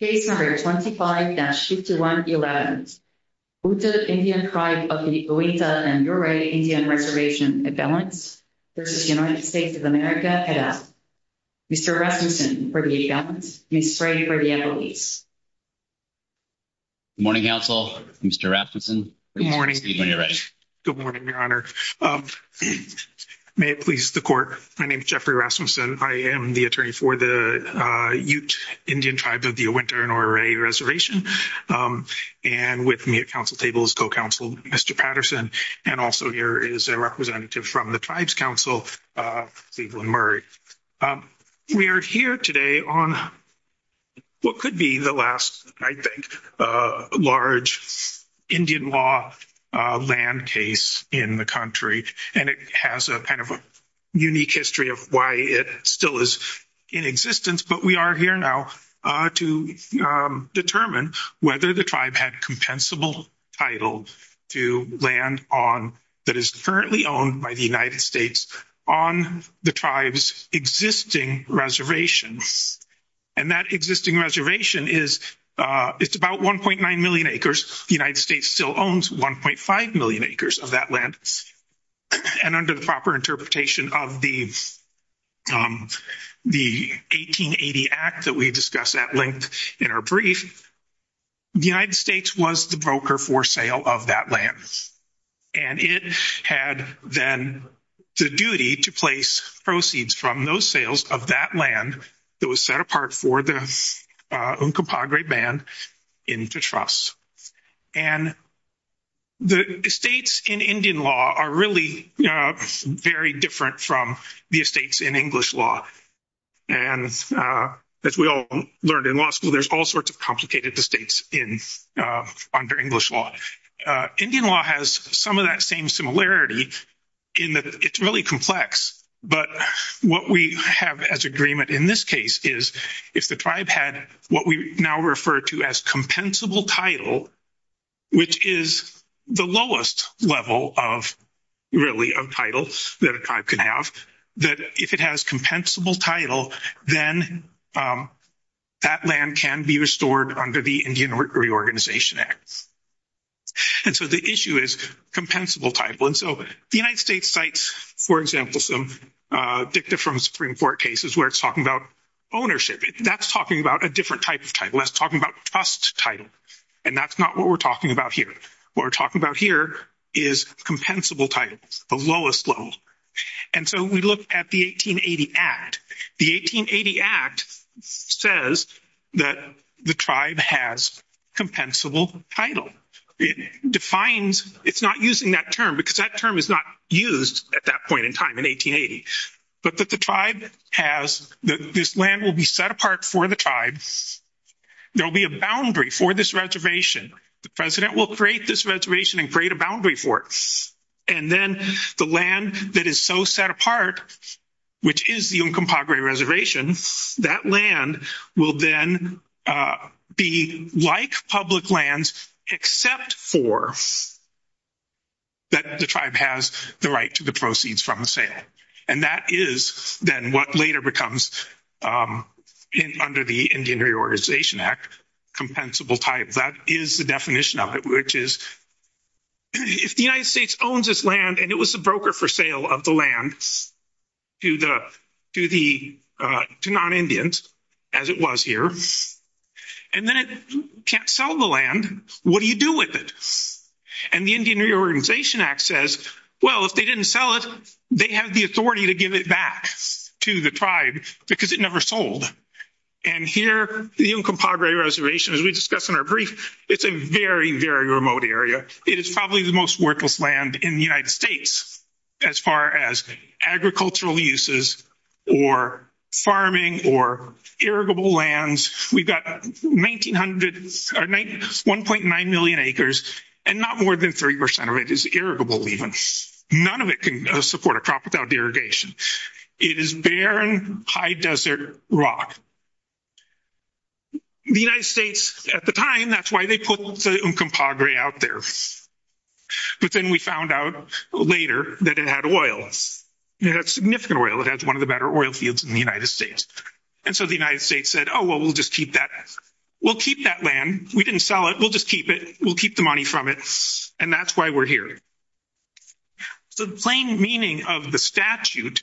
of America. Case number 25-5111, Ute Indian Tribe of the Uintah and Ouray Indian Reservation imbalance v. United States of America, Hedda. Mr. Rasmussen for the imbalance, Mr. Ray for the employees. Good morning, counsel. Mr. Rasmussen, please proceed when you're ready. Good morning, Your Honor. May it please the court, my name is Jeffrey Rasmussen. I am the attorney for the Ute Indian Tribe of the Uintah and Ouray Reservation, and with me at counsel table is co-counsel, Mr. Patterson, and also here is a representative from the Tribes Council, Cleveland Murray. We are here today on what could be the last, I think, large Indian law land case in the country, and it has a kind of a unique history of why it still is in existence, but we are here now to determine whether the tribe had compensable title to land that is currently owned by the United States on the tribe's existing reservations, and that existing reservation is, it's about 1.9 million acres. The United States still owns 1.5 million acres of that land, and under the proper interpretation of the 1880 Act that we discussed at length in our brief, the United States was the broker for sale of that land, and it had then the duty to place proceeds from those sales of that land that was set apart for the Uncompahgre Band in Tetras, and the estates in Indian law are really very different from the estates in English law, and as we all learned in law school, there's all sorts of complicated estates under English law. Indian law has some of that same similarity in that it's really complex, but what we have as agreement in this case is, if the tribe had what we now refer to as compensable title, which is the lowest level of, really, of title that a tribe can have, that if it has compensable title, then that land can be restored under the Indian Reorganization Act, and so the issue is compensable title, and so the United States cites, for example, some dicta from Supreme Court cases where it's talking about ownership. That's talking about a different type of title. That's talking about trust title, and that's not what we're talking about here. What we're talking about here is compensable title, the lowest level, and so we look at the 1880 Act. The 1880 Act says that the tribe has compensable title. It defines, it's not using that term because that term is not used at that point in time in 1880, but that the tribe has, that this land will be set apart for the tribes. There'll be a boundary for this reservation. The president will create this reservation and create a boundary for it, and then the land that is so set apart, which is the Uncompahgre reservation, that land will then be like public lands except for that the tribe has the right to the proceeds from the sale, and that is then what later becomes, under the Indian Reorganization Act, compensable type. That is the definition of it, which is if the United States owns this land and it was a broker for sale of the land to the, to the, to non-Indians, as it was here, and then it can't sell the land, what do you do with it? And the Indian Reorganization Act says, well, if they didn't sell it, they have the authority to give it back to the tribe because it never sold, and here the Uncompahgre reservation, as we discussed in our brief, it's a very, very remote area. It is probably the most worthless land in the United States as far as agricultural uses or farming or irrigable lands. We've got 1,900, 1.9 million acres, and not more than 30% of it is irrigable even. None of it can support a crop without irrigation. It is barren, high desert rock. The United States has the Uncompahgre out there. But then we found out later that it had oil. It had significant oil. It has one of the better oil fields in the United States. And so the United States said, oh, well, we'll just keep that. We'll keep that land. We didn't sell it. We'll just keep it. We'll keep the money from it, and that's why we're here. So the plain meaning of the statute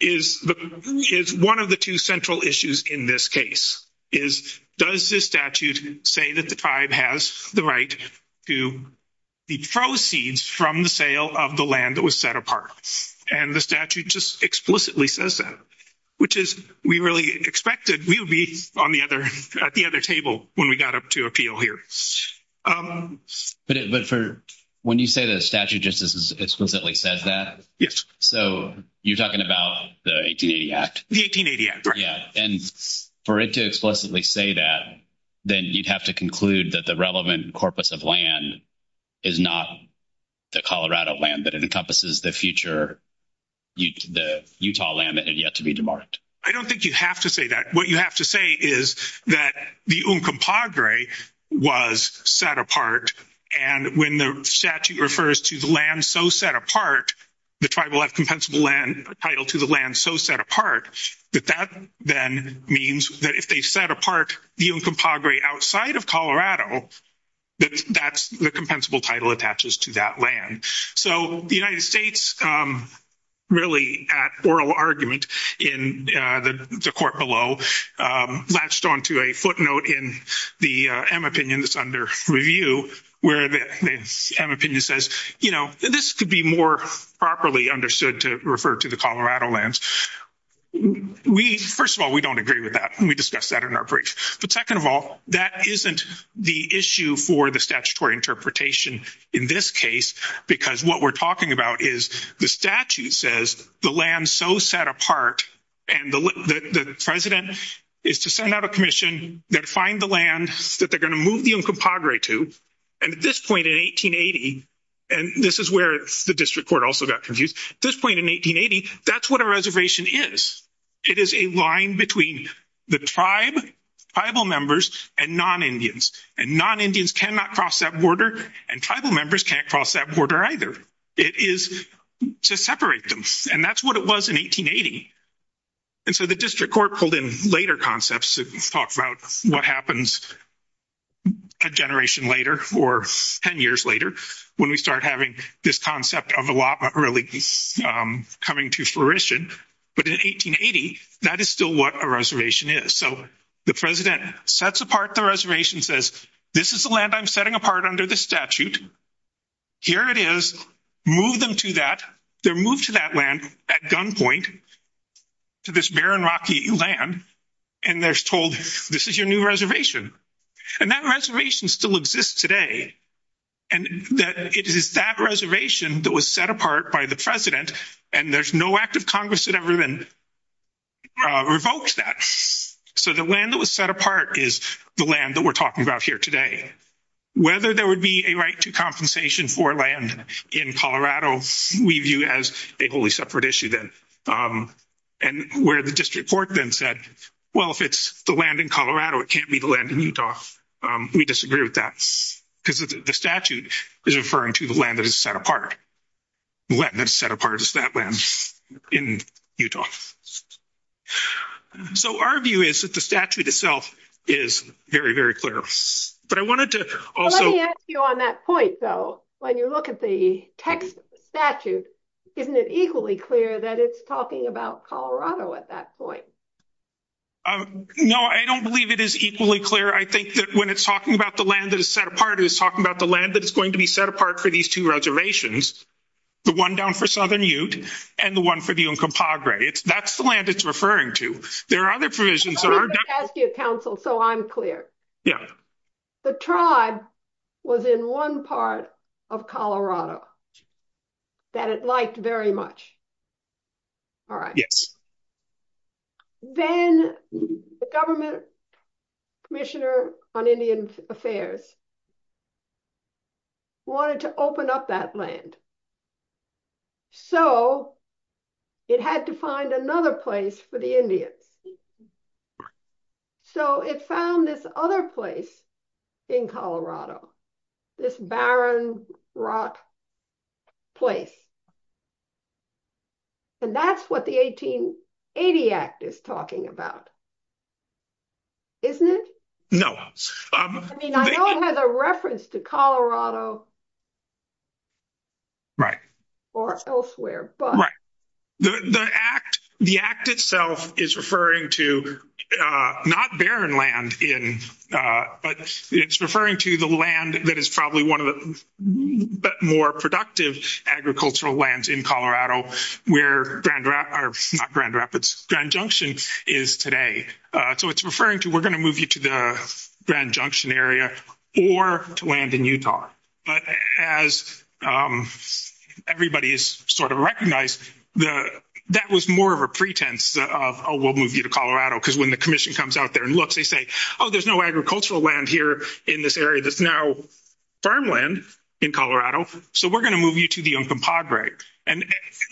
is the, is one of the two central issues in this case, is does this statute say that the tribe has the right to the proceeds from the sale of the land that was set apart? And the statute just explicitly says that, which is, we really expected we would be on the other, at the other table when we got up to appeal here. But for, when you say the statute just as explicitly says that, so you're talking about the 1880 Act? The 1880 Act. Yeah. And for it to explicitly say that, then you'd have to conclude that the relevant corpus of land is not the Colorado land, but it encompasses the future, the Utah land that had yet to be demarked. I don't think you have to say that. What you have to say is that the Uncompahgre was set apart. And when the statute refers to the land so set apart, the tribe will have compensable land, title to the land so set apart, that that then means that if they set apart the Uncompahgre outside of Colorado, that that's the compensable title attaches to that land. So the United States, really at oral argument in the court below, latched on to a footnote in the M opinion that's under review, where the M opinion says, you know, this could be more properly understood to refer to the Colorado lands. We, first of all, we don't agree with that. We discussed that in our brief. But second of all, that isn't the issue for the statutory interpretation in this case, because what we're talking about is the statute says the land so set apart, and the president is to send out a commission that find the land that they're going to move the Uncompahgre to. And at this point in 1880, and this is where the district court also got confused. At this point in 1880, that's what a reservation is. It is a line between the tribe, tribal members, and non-Indians. And non-Indians cannot cross that border, and tribal members can't cross that border either. It is to separate them. And that's what it was in 1880. And so the district court pulled in later concepts to talk about what happens a generation later, or 10 years later, when we start having this concept of a lot really coming to fruition. But in 1880, that is still what a reservation is. So the president sets apart the reservation, says, this is the land I'm setting apart under the statute. Here it is. Move them to that. They're moved to that land at gunpoint, to this barren rocky land. And they're told, this is your new reservation. And that reservation still exists today. And it is that reservation that was set apart by the president, and there's no act of Congress that ever then revoked that. So the land that was set apart is the land that we're talking about here today. Whether there would be a right to compensation for land in Colorado, we view as a wholly separate issue then. And where the district court then said, well, if it's the land in Colorado, it can't be the land in Utah. We disagree with that. Because the statute is referring to the land that is set apart. The land that is set apart is that land in Utah. So our view is that the statute itself is very, very clear. But I wanted to also... Let me ask you on that point, though. When you look at the text of the statute, isn't it equally clear that it's talking about Colorado at that point? No, I don't believe it is equally clear. I think that when it's talking about the land that is set apart, it's talking about the land that is going to be set apart for these two reservations. The one down for Southern Ute, and the one for the Uncompahgre. That's the land it's referring to. There are other provisions... Let me ask you, counsel, so I'm clear. Yeah. The tribe was in one part of Colorado that it liked very much. All right. Yes. Then the government commissioner on Indian Affairs wanted to open up that land. So it had to find another place for the Indians. Right. So it found this other place in Colorado, this barren rock place. And that's what the 1880 Act is talking about, isn't it? No. I mean, I know it has a reference to Colorado or elsewhere. Right. The Act itself is referring to not barren land, but it's referring to the land that is probably one of the more productive agricultural lands in Colorado, where Grand Rapids... Not Grand Rapids, Grand Junction is today. So it's referring to, we're going to move you to the Grand Junction area or to land in Utah. But as everybody has sort of recognized, that was more of a pretense of, oh, we'll move you to Colorado, because when the commission comes out there and looks, they say, oh, there's no agricultural land here in this area that's now farmland in Colorado. So we're going to move you to the Uncompahgre. And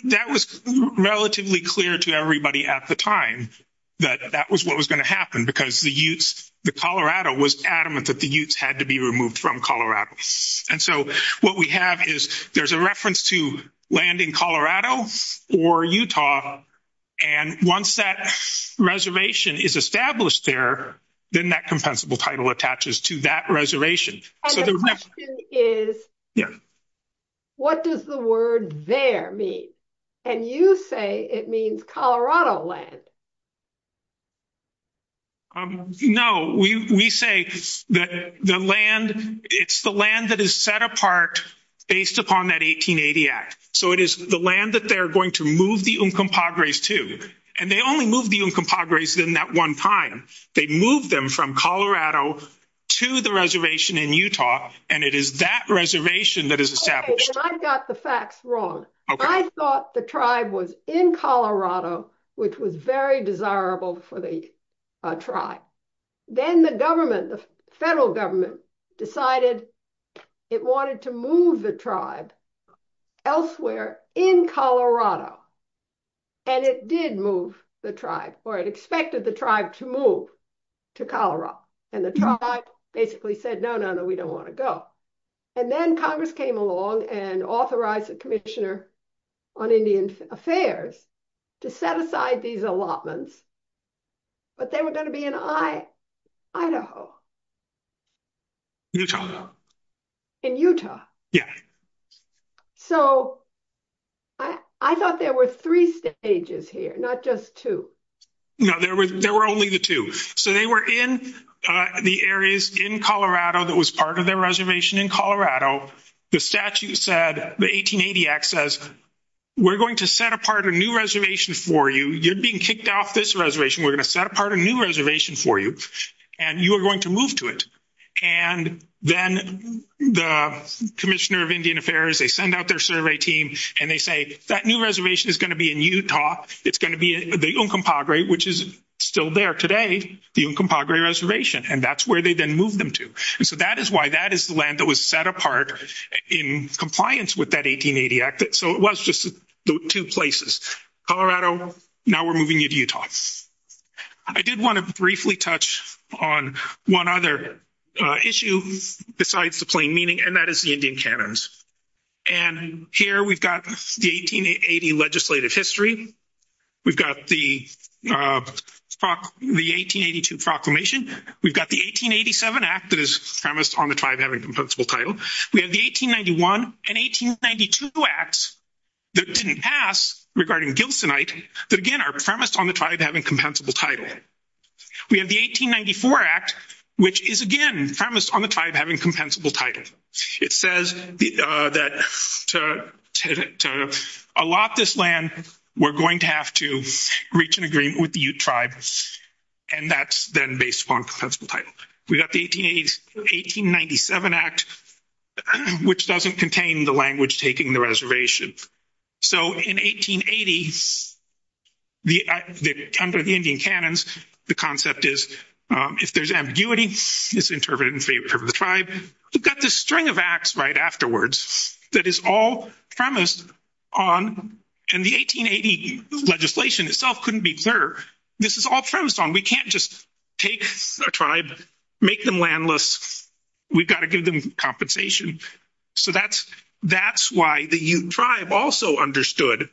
that was relatively clear to everybody at the time that that was what was going to happen, because the Colorado was adamant that the Utes had to be removed from Colorado. And so what we have is there's a reference to land in Colorado or Utah. And once that reservation is established there, then that compensable title attaches to that reservation. And the question is, what does the word there mean? And you say it means Colorado land. No, we say that the land, it's the land that is set apart based upon that 1880 Act. So it is the land that they're going to move the Uncompahgre's to. And they only moved the Uncompahgre's in that one time. They moved them from Colorado to the reservation in Utah. And it is that reservation that is established. I got the facts wrong. I thought the tribe was in Colorado, which was very desirable for the tribe. Then the federal government decided it wanted to move the tribe elsewhere in Colorado. And it did move the tribe, or it expected the tribe to move to Colorado. And the tribe basically said, no, no, no, we don't want to go. And then Congress came along and authorized the Commissioner on Indian Affairs to set aside these allotments. But they were going to be in Idaho. Utah. In Utah. Yeah. So I thought there were three stages here, not just two. No, there were only the two. So they were in the areas in Colorado that was part of their reservation in Colorado. The statute said, the 1880 Act says, we're going to set apart a new reservation for you. You're being kicked off this reservation. We're going to set apart a new reservation for you. And you are going to move to it. And then the Commissioner of Indian Affairs, they send out their survey team. And they say, that new reservation is going to be in Utah. It's going to be the Uncompahgre, which is still there today, the Uncompahgre reservation. And that's where they then moved them to. And so that is why that is the land that was set apart in compliance with that 1880 Act. So it was just two places. Colorado, now we're moving you to Utah. I did want to briefly touch on one other issue besides the plain meaning, and that is the Indian Canons. And here we've got the 1880 legislative history. We've got the 1882 Proclamation. We've got the 1887 Act that is premised on the tribe having compensable title. We have the 1891 and 1892 Acts that didn't pass regarding Gilsonite, that again are premised on the tribe having compensable title. We have the 1894 Act, which is again premised on the tribe having compensable title. It says that to allot this land, we're going to have to reach an agreement with the Ute tribe, and that's then based upon compensable title. We've got the 1887 Act, which doesn't contain the language taking the reservation. So in 1880, under the Indian Canons, the concept is if there's ambiguity, it's interpreted in favor of the tribe. We've got this string of Acts right afterwards that is all premised on, and the 1880 legislation itself couldn't be clear. This is all premised on. We can't just take a tribe, make them landless. We've got to give them compensation. So that's why the Ute tribe also understood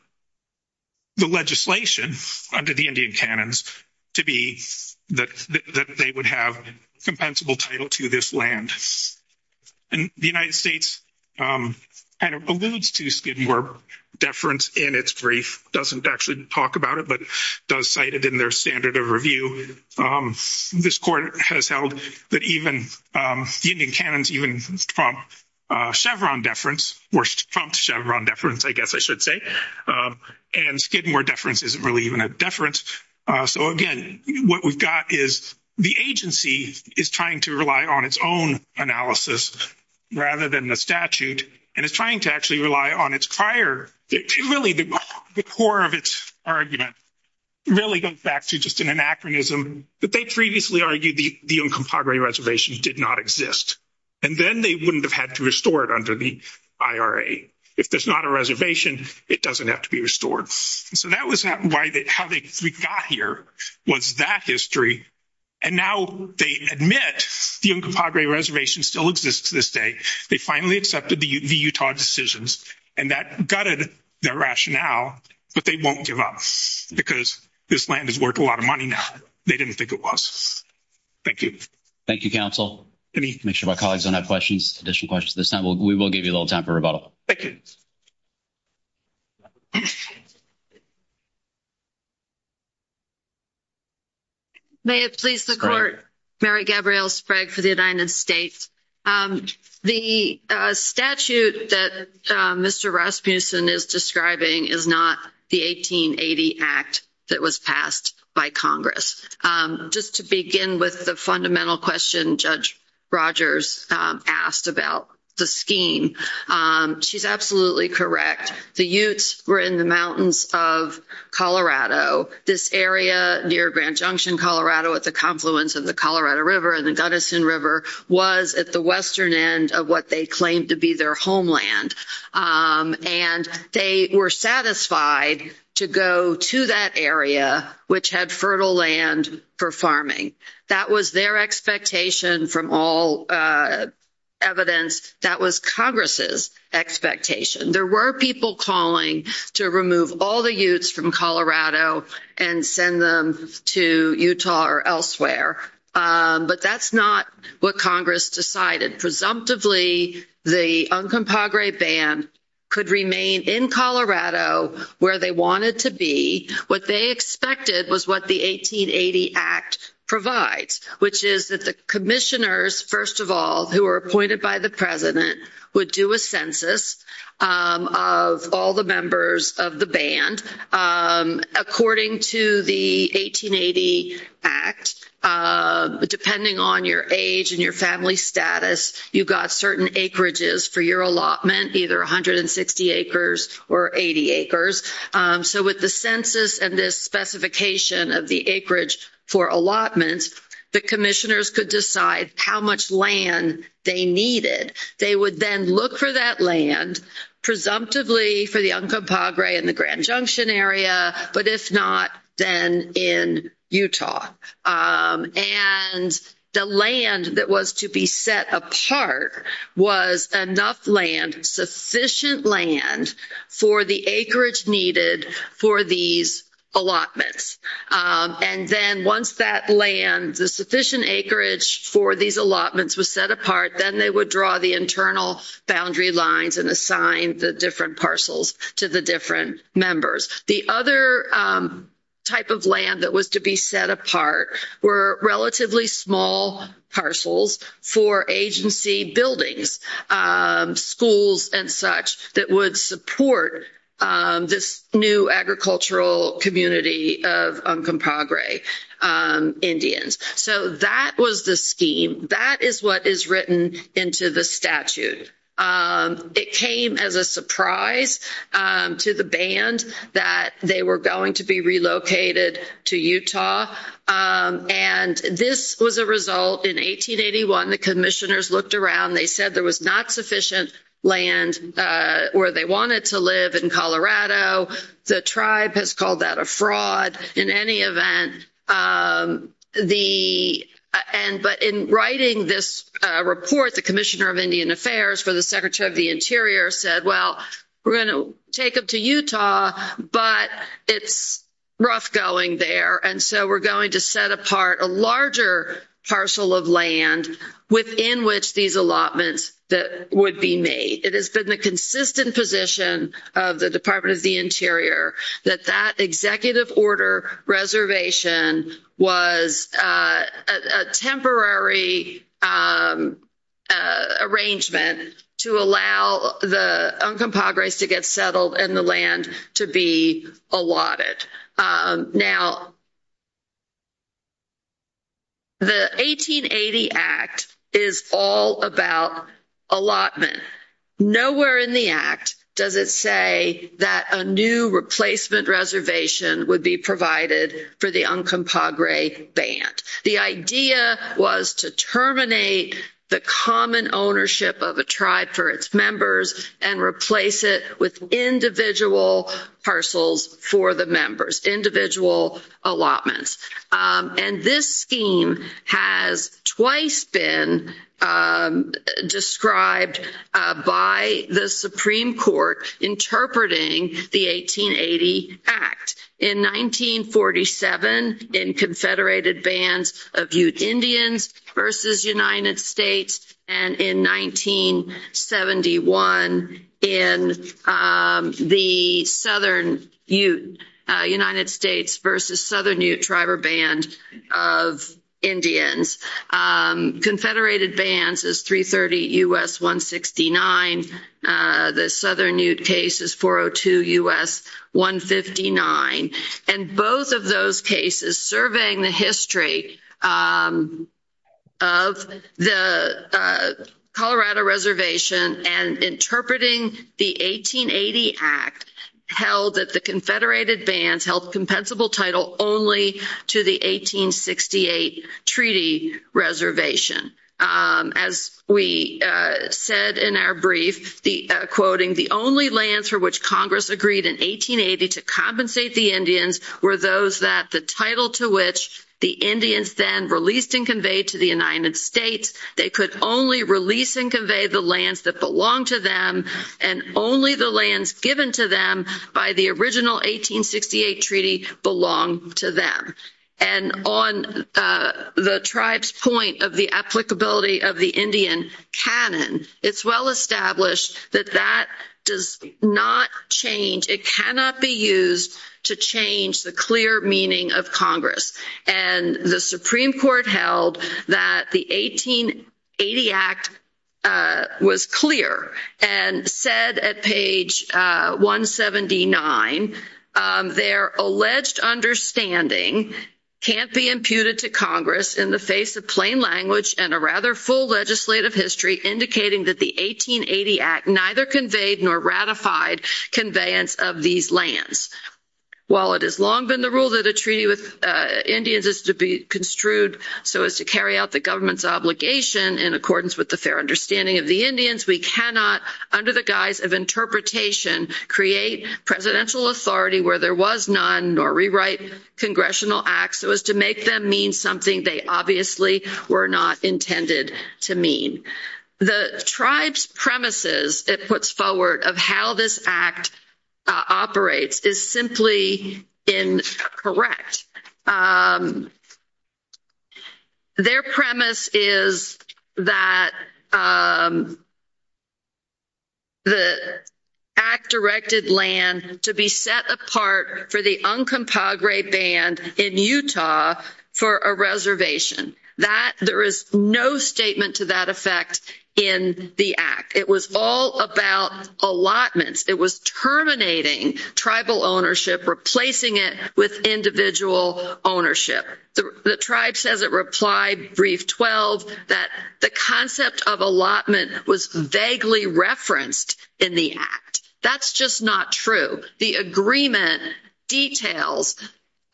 the legislation under the Indian Canons to be that they would have compensable title to this land. And the United States kind of alludes to Skidmore deference in its brief. It doesn't actually talk about it, but does cite it in their standard of review. This court has held that even the Indian Canons even prompt Chevron deference, or prompt Chevron deference, I guess I should say. And Skidmore deference isn't really even a deference. So again, what we've got is the agency is trying to rely on its own analysis rather than the statute, and it's trying to actually rely on its prior. Really, the core of its argument really goes back to just an anachronism, that they previously argued the Uncompahgre Reservation did not exist, and then they wouldn't have had to restore it under the IRA. If there's not a reservation, it doesn't have to be restored. So that was how we got here was that history, and now they admit the Uncompahgre Reservation still exists to this day. They finally accepted the Utah decisions, and that gutted their rationale, but they won't give up because this land has worth a lot of money now. They didn't think it was. Thank you. Thank you, counsel. Let me make sure my colleagues don't have questions, additional questions at this time. We will give you a little time for rebuttal. Thank you. May it please the Court. Mary Gabrielle Sprague for the United States. The statute that Mr. Rasmussen is describing is not the 1880 Act that was passed by Congress. Just to begin with the fundamental question Judge Rogers asked about the scheme, she's absolutely correct. The Utes were in the mountains of Colorado. This area near Grand Junction, Colorado at the confluence of the Colorado River and the Gunnison River was at the western end of what they claimed to be their homeland, and they were satisfied to go to that area which had fertile land for farming. That was their expectation from all evidence. That was Congress's expectation. There were people calling to remove all the Utes from Colorado and send them to Utah or elsewhere, but that's not what Congress decided. Presumptively, the Uncompahgre Band could remain in Colorado where they wanted to be. What they expected was what the 1880 Act provides, which is that the commissioners, first of all, who were appointed by the President would do a census of all the members of the band. According to the 1880 Act, depending on your age and your family status, you got certain acreages for your allotment, either 160 acres or 80 acres. So with the census and this specification of the acreage for allotments, the commissioners could decide how much land they needed. They would then look for that land, presumptively for the Uncompahgre in the Grand Junction area, but if not, then in Utah. And the land that was to be set apart was enough land, sufficient land for the acreage needed for these allotments. And then once that land, the sufficient acreage for these allotments was set apart, then they would draw the internal boundary lines and assign the different parcels to the different members. The other type of land that was to be set apart were relatively small parcels for agency buildings, schools and such that would support this new agricultural community of Uncompahgre Indians. So that was the scheme. That is what is written into the statute. It came as a surprise to the band that they were going to be relocated to Utah. And this was a result in 1881, the commissioners looked around, they said there was not sufficient land where they wanted to live in Colorado. The tribe has called that a fraud in any event. But in writing this report, the Commissioner of Indian Affairs for the Secretary of the Interior said, well, we're going to take them to Utah, but it's rough going there. And so we're going to set apart a larger parcel of land within which these allotments would be made. It reservation was a temporary arrangement to allow the Uncompahgre to get settled and the land to be allotted. Now, the 1880 Act is all about allotment. Nowhere in the Act does it say that a replacement reservation would be provided for the Uncompahgre band. The idea was to terminate the common ownership of a tribe for its members and replace it with individual parcels for the members, individual allotments. And this scheme has twice been described by the Supreme Court interpreting the 1880 Act. In 1947, in Confederated Bands of Ute Indians versus United States and in 1971 in the Southern Ute, United States versus Southern Ute Tribal Band of Indians. Confederated Bands is 330 U.S. 169. The Southern Ute case is 402 U.S. 159. And both of those cases surveying the history of the Colorado Reservation and interpreting the 1880 Act held that the as we said in our brief, the quoting, the only lands for which Congress agreed in 1880 to compensate the Indians were those that the title to which the Indians then released and conveyed to the United States. They could only release and convey the lands that belonged to them and only the lands given to them by the original 1868 treaty belonged to them. And on the tribe's point of the applicability of the Indian canon, it's well established that that does not change. It cannot be used to change the clear meaning of Congress. And the Supreme Court held that the 1880 Act was clear and said at page 179, their alleged understanding can't be imputed to Congress in the face of plain language and a rather full legislative history indicating that the 1880 Act neither conveyed nor ratified conveyance of these lands. While it has long been the rule that a treaty with Indians is to be construed so as to carry out the government's obligation in accordance with the fair understanding of the Indians, we cannot under the guise of interpretation create presidential authority where there was none nor rewrite congressional acts so as to make them mean something they obviously were not intended to mean. The tribe's premises, it puts forward, of how this Act operates is simply incorrect. Their premise is that the Act directed land to be set apart for the Uncompahgre Band in Utah for a reservation. That, there is no statement to that effect in the Act. It was all about allotments. It was terminating tribal ownership, replacing it with individual ownership. The tribe says it replied brief 12 that the concept of allotment was vaguely referenced in the Act. That's just not true. The agreement details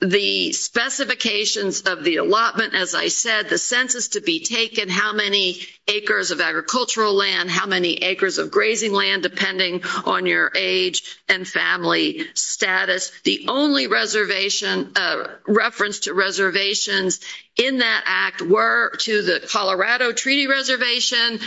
the specifications of the allotment, as I said, the census to be taken, how many acres of agricultural land, how many acres of grazing land, depending on your age and family status. The only reservation, reference to reservations in that Act were to the Colorado Treaty Reservation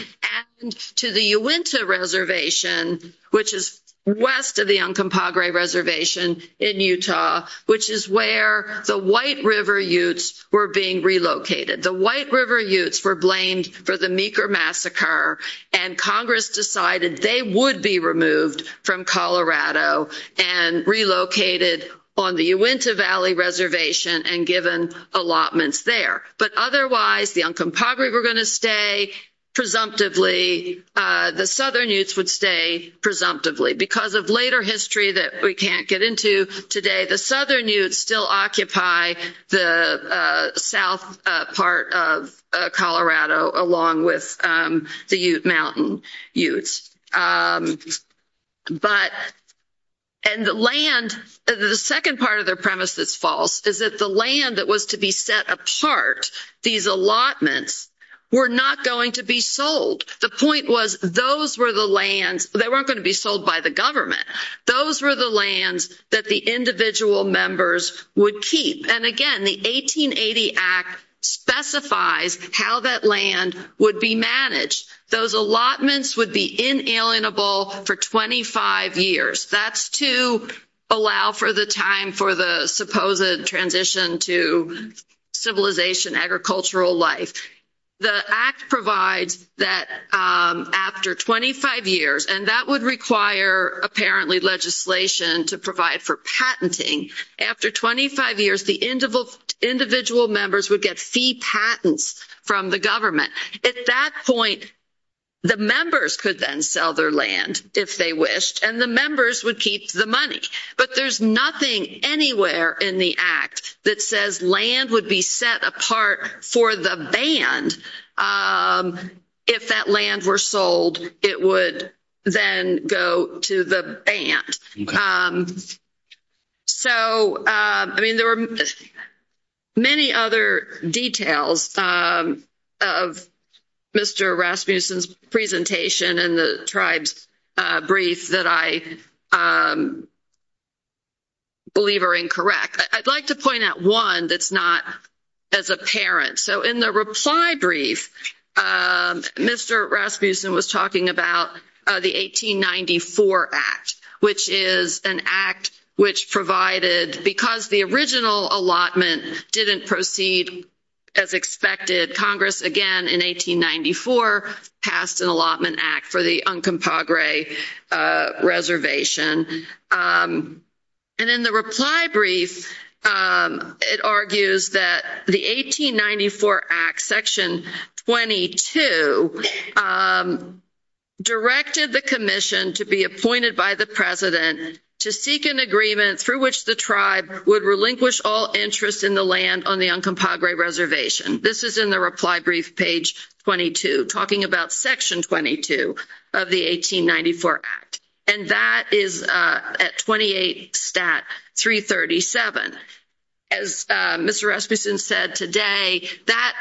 and to the Uinta Reservation, which is west of the Uncompahgre Reservation in Utah, which is where the White River Utes were being relocated. The White River Utes were blamed for the Meeker Massacre and Congress decided they would be removed from Colorado and relocated on the Uinta Valley Reservation and given allotments there. But otherwise, the Uncompahgre were going to stay presumptively, the Southern Utes would stay presumptively. Because of later along with the Ute Mountain Utes. And the land, the second part of their premise that's false, is that the land that was to be set apart, these allotments, were not going to be sold. The point was those were the lands, they weren't going to be sold by the government. Those were the lands that the individual members would keep. And again, the 1880 Act specifies how that land would be managed. Those allotments would be inalienable for 25 years. That's to allow for the time for the supposed transition to civilization, agricultural life. The Act provides that after 25 years, and that would require apparently legislation to provide for patenting, after 25 years the individual members would get fee patents from the government. At that point, the members could then sell their land if they wished and the members would keep the money. But there's nothing anywhere in the Act that says land would be set apart for the band if that land were sold, it would then go to the band. So, I mean, there are many other details of Mr. Rasmussen's presentation and the tribe's brief that I believe are incorrect. I'd like to one that's not as apparent. So, in the reply brief, Mr. Rasmussen was talking about the 1894 Act, which is an Act which provided, because the original allotment didn't proceed as expected, Congress again in 1894 passed an allotment Act for the Uncompahgre reservation. And in the reply brief, it argues that the 1894 Act, section 22, directed the commission to be appointed by the president to seek an agreement through which the tribe would relinquish all interest in the land on the Uncompahgre reservation. This is in the at 28 Stat 337. As Mr. Rasmussen said today, that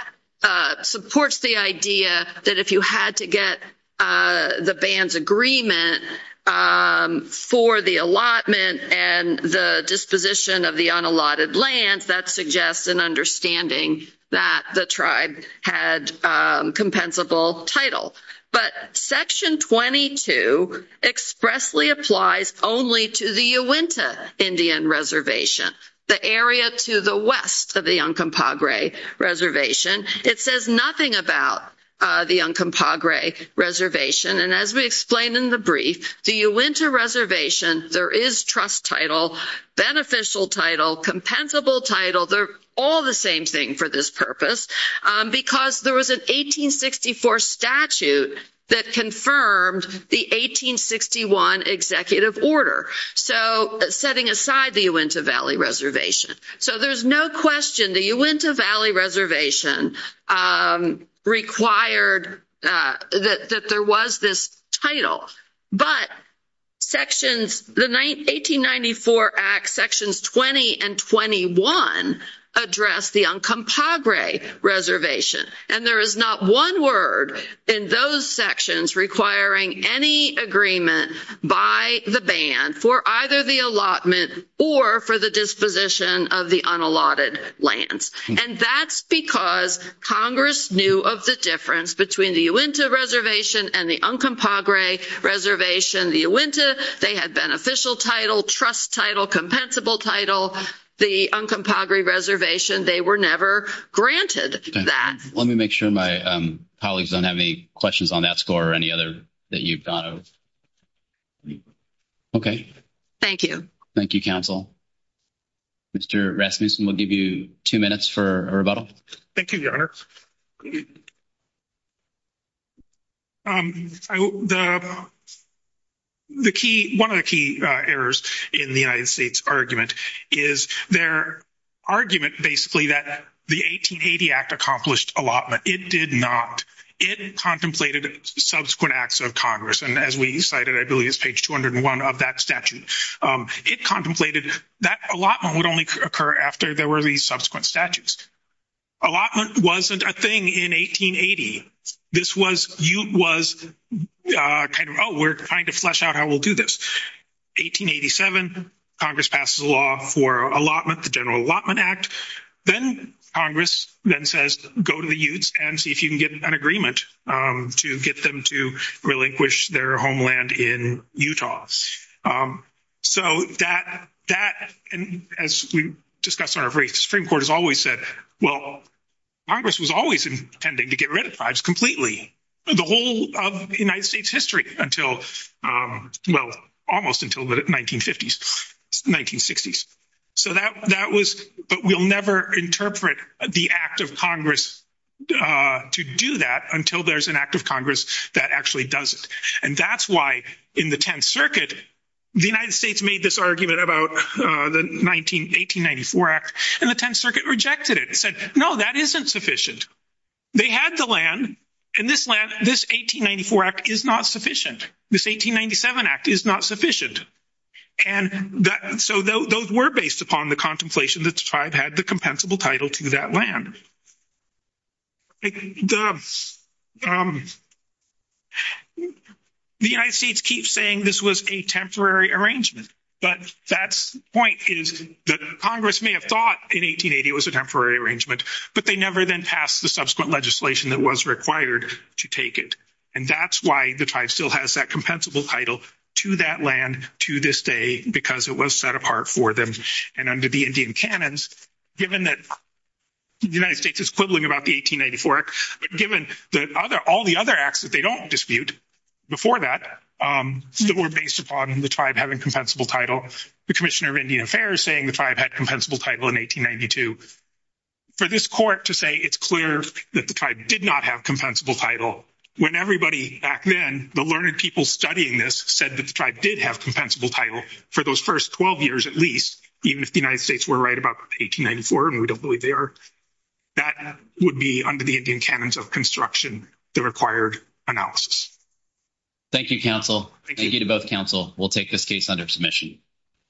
supports the idea that if you had to get the band's agreement for the allotment and the disposition of the unallotted lands, that suggests an understanding that the tribe had compensable title. But section 22 expressly applies only to the Uinta Indian reservation, the area to the west of the Uncompahgre reservation. It says nothing about the Uncompahgre reservation. And as we explained in the brief, the Uinta reservation, there is trust title, beneficial title, compensable title, they're all the same thing for this purpose. Because there was an 1864 statute that confirmed the 1861 executive order. So setting aside the Uinta Valley Reservation. So there's no question the Uinta Valley Reservation required that there was this title. But sections, the 1894 Act, sections 20 and 21 address the Uncompahgre reservation. And there is not one word in those sections requiring any agreement by the band for either the allotment or for the disposition of the unallotted lands. And that's because Congress knew of the difference between the Uinta reservation and the Uncompahgre reservation. The Uinta, they had beneficial title, trust title, compensable title. The Uncompahgre reservation, they were never granted that. Let me make sure my colleagues don't have any questions on that score or any other that you've gone over. Okay. Thank you. Thank you, counsel. Mr. Rasmussen, we'll give you two minutes for a rebuttal. Thank you, Your Honor. One of the key errors in the United States argument is their argument basically that the 1880 Act accomplished allotment. It did not. It contemplated subsequent acts of Congress. And as we cited, I believe it's page 201 of that statute. It contemplated that allotment would only occur after there were these subsequent statutes. Allotment wasn't a thing in 1880. This was, you was kind of, oh, we're trying to flesh out how we'll do this. 1887, Congress passes a law for allotment, the General Allotment Act. Then Congress then says, go to the Utes and see if you can get an agreement to get them to relinquish their homeland in Utah. So that, and as we discussed on our brief, the Supreme Court has always said, well, Congress was always intending to get rid of tribes completely, the whole of the United States history until, well, almost until the 1950s, 1960s. So that was, but we'll never interpret the Act of Congress to do that until there's an Act of Congress that actually does it. And that's why in the Tenth Circuit, the United States made this argument about the 1894 Act, and the Tenth Circuit rejected it and said, no, that isn't sufficient. They had the land, and this 1894 Act is not sufficient. This 1897 Act is not sufficient. And so those were based upon the contemplation that the tribe had the compensable title to that land. The United States keeps saying this was a temporary arrangement, but that point is that Congress may have thought in 1880 it was a temporary arrangement, but they never then passed the subsequent legislation that was required to take it. And that's why the tribe still has that compensable title to that land to this day, because it was set apart for them. And under the Indian canons, given that the United States is quibbling about the 1894 Act, but given all the other acts that they don't dispute before that, that were based upon the tribe having compensable title, the Commissioner of Indian Affairs saying the tribe had compensable title in 1892. For this court to say it's clear that the tribe did not have compensable title when everybody back then, the learned people studying this, said that the tribe did have compensable title for those first 12 years at least, even if the United States were right about 1894 and we don't believe they are, that would be under the Indian canons of construction, the required analysis. Thank you, counsel. Thank you to both counsel. We'll take this case under submission.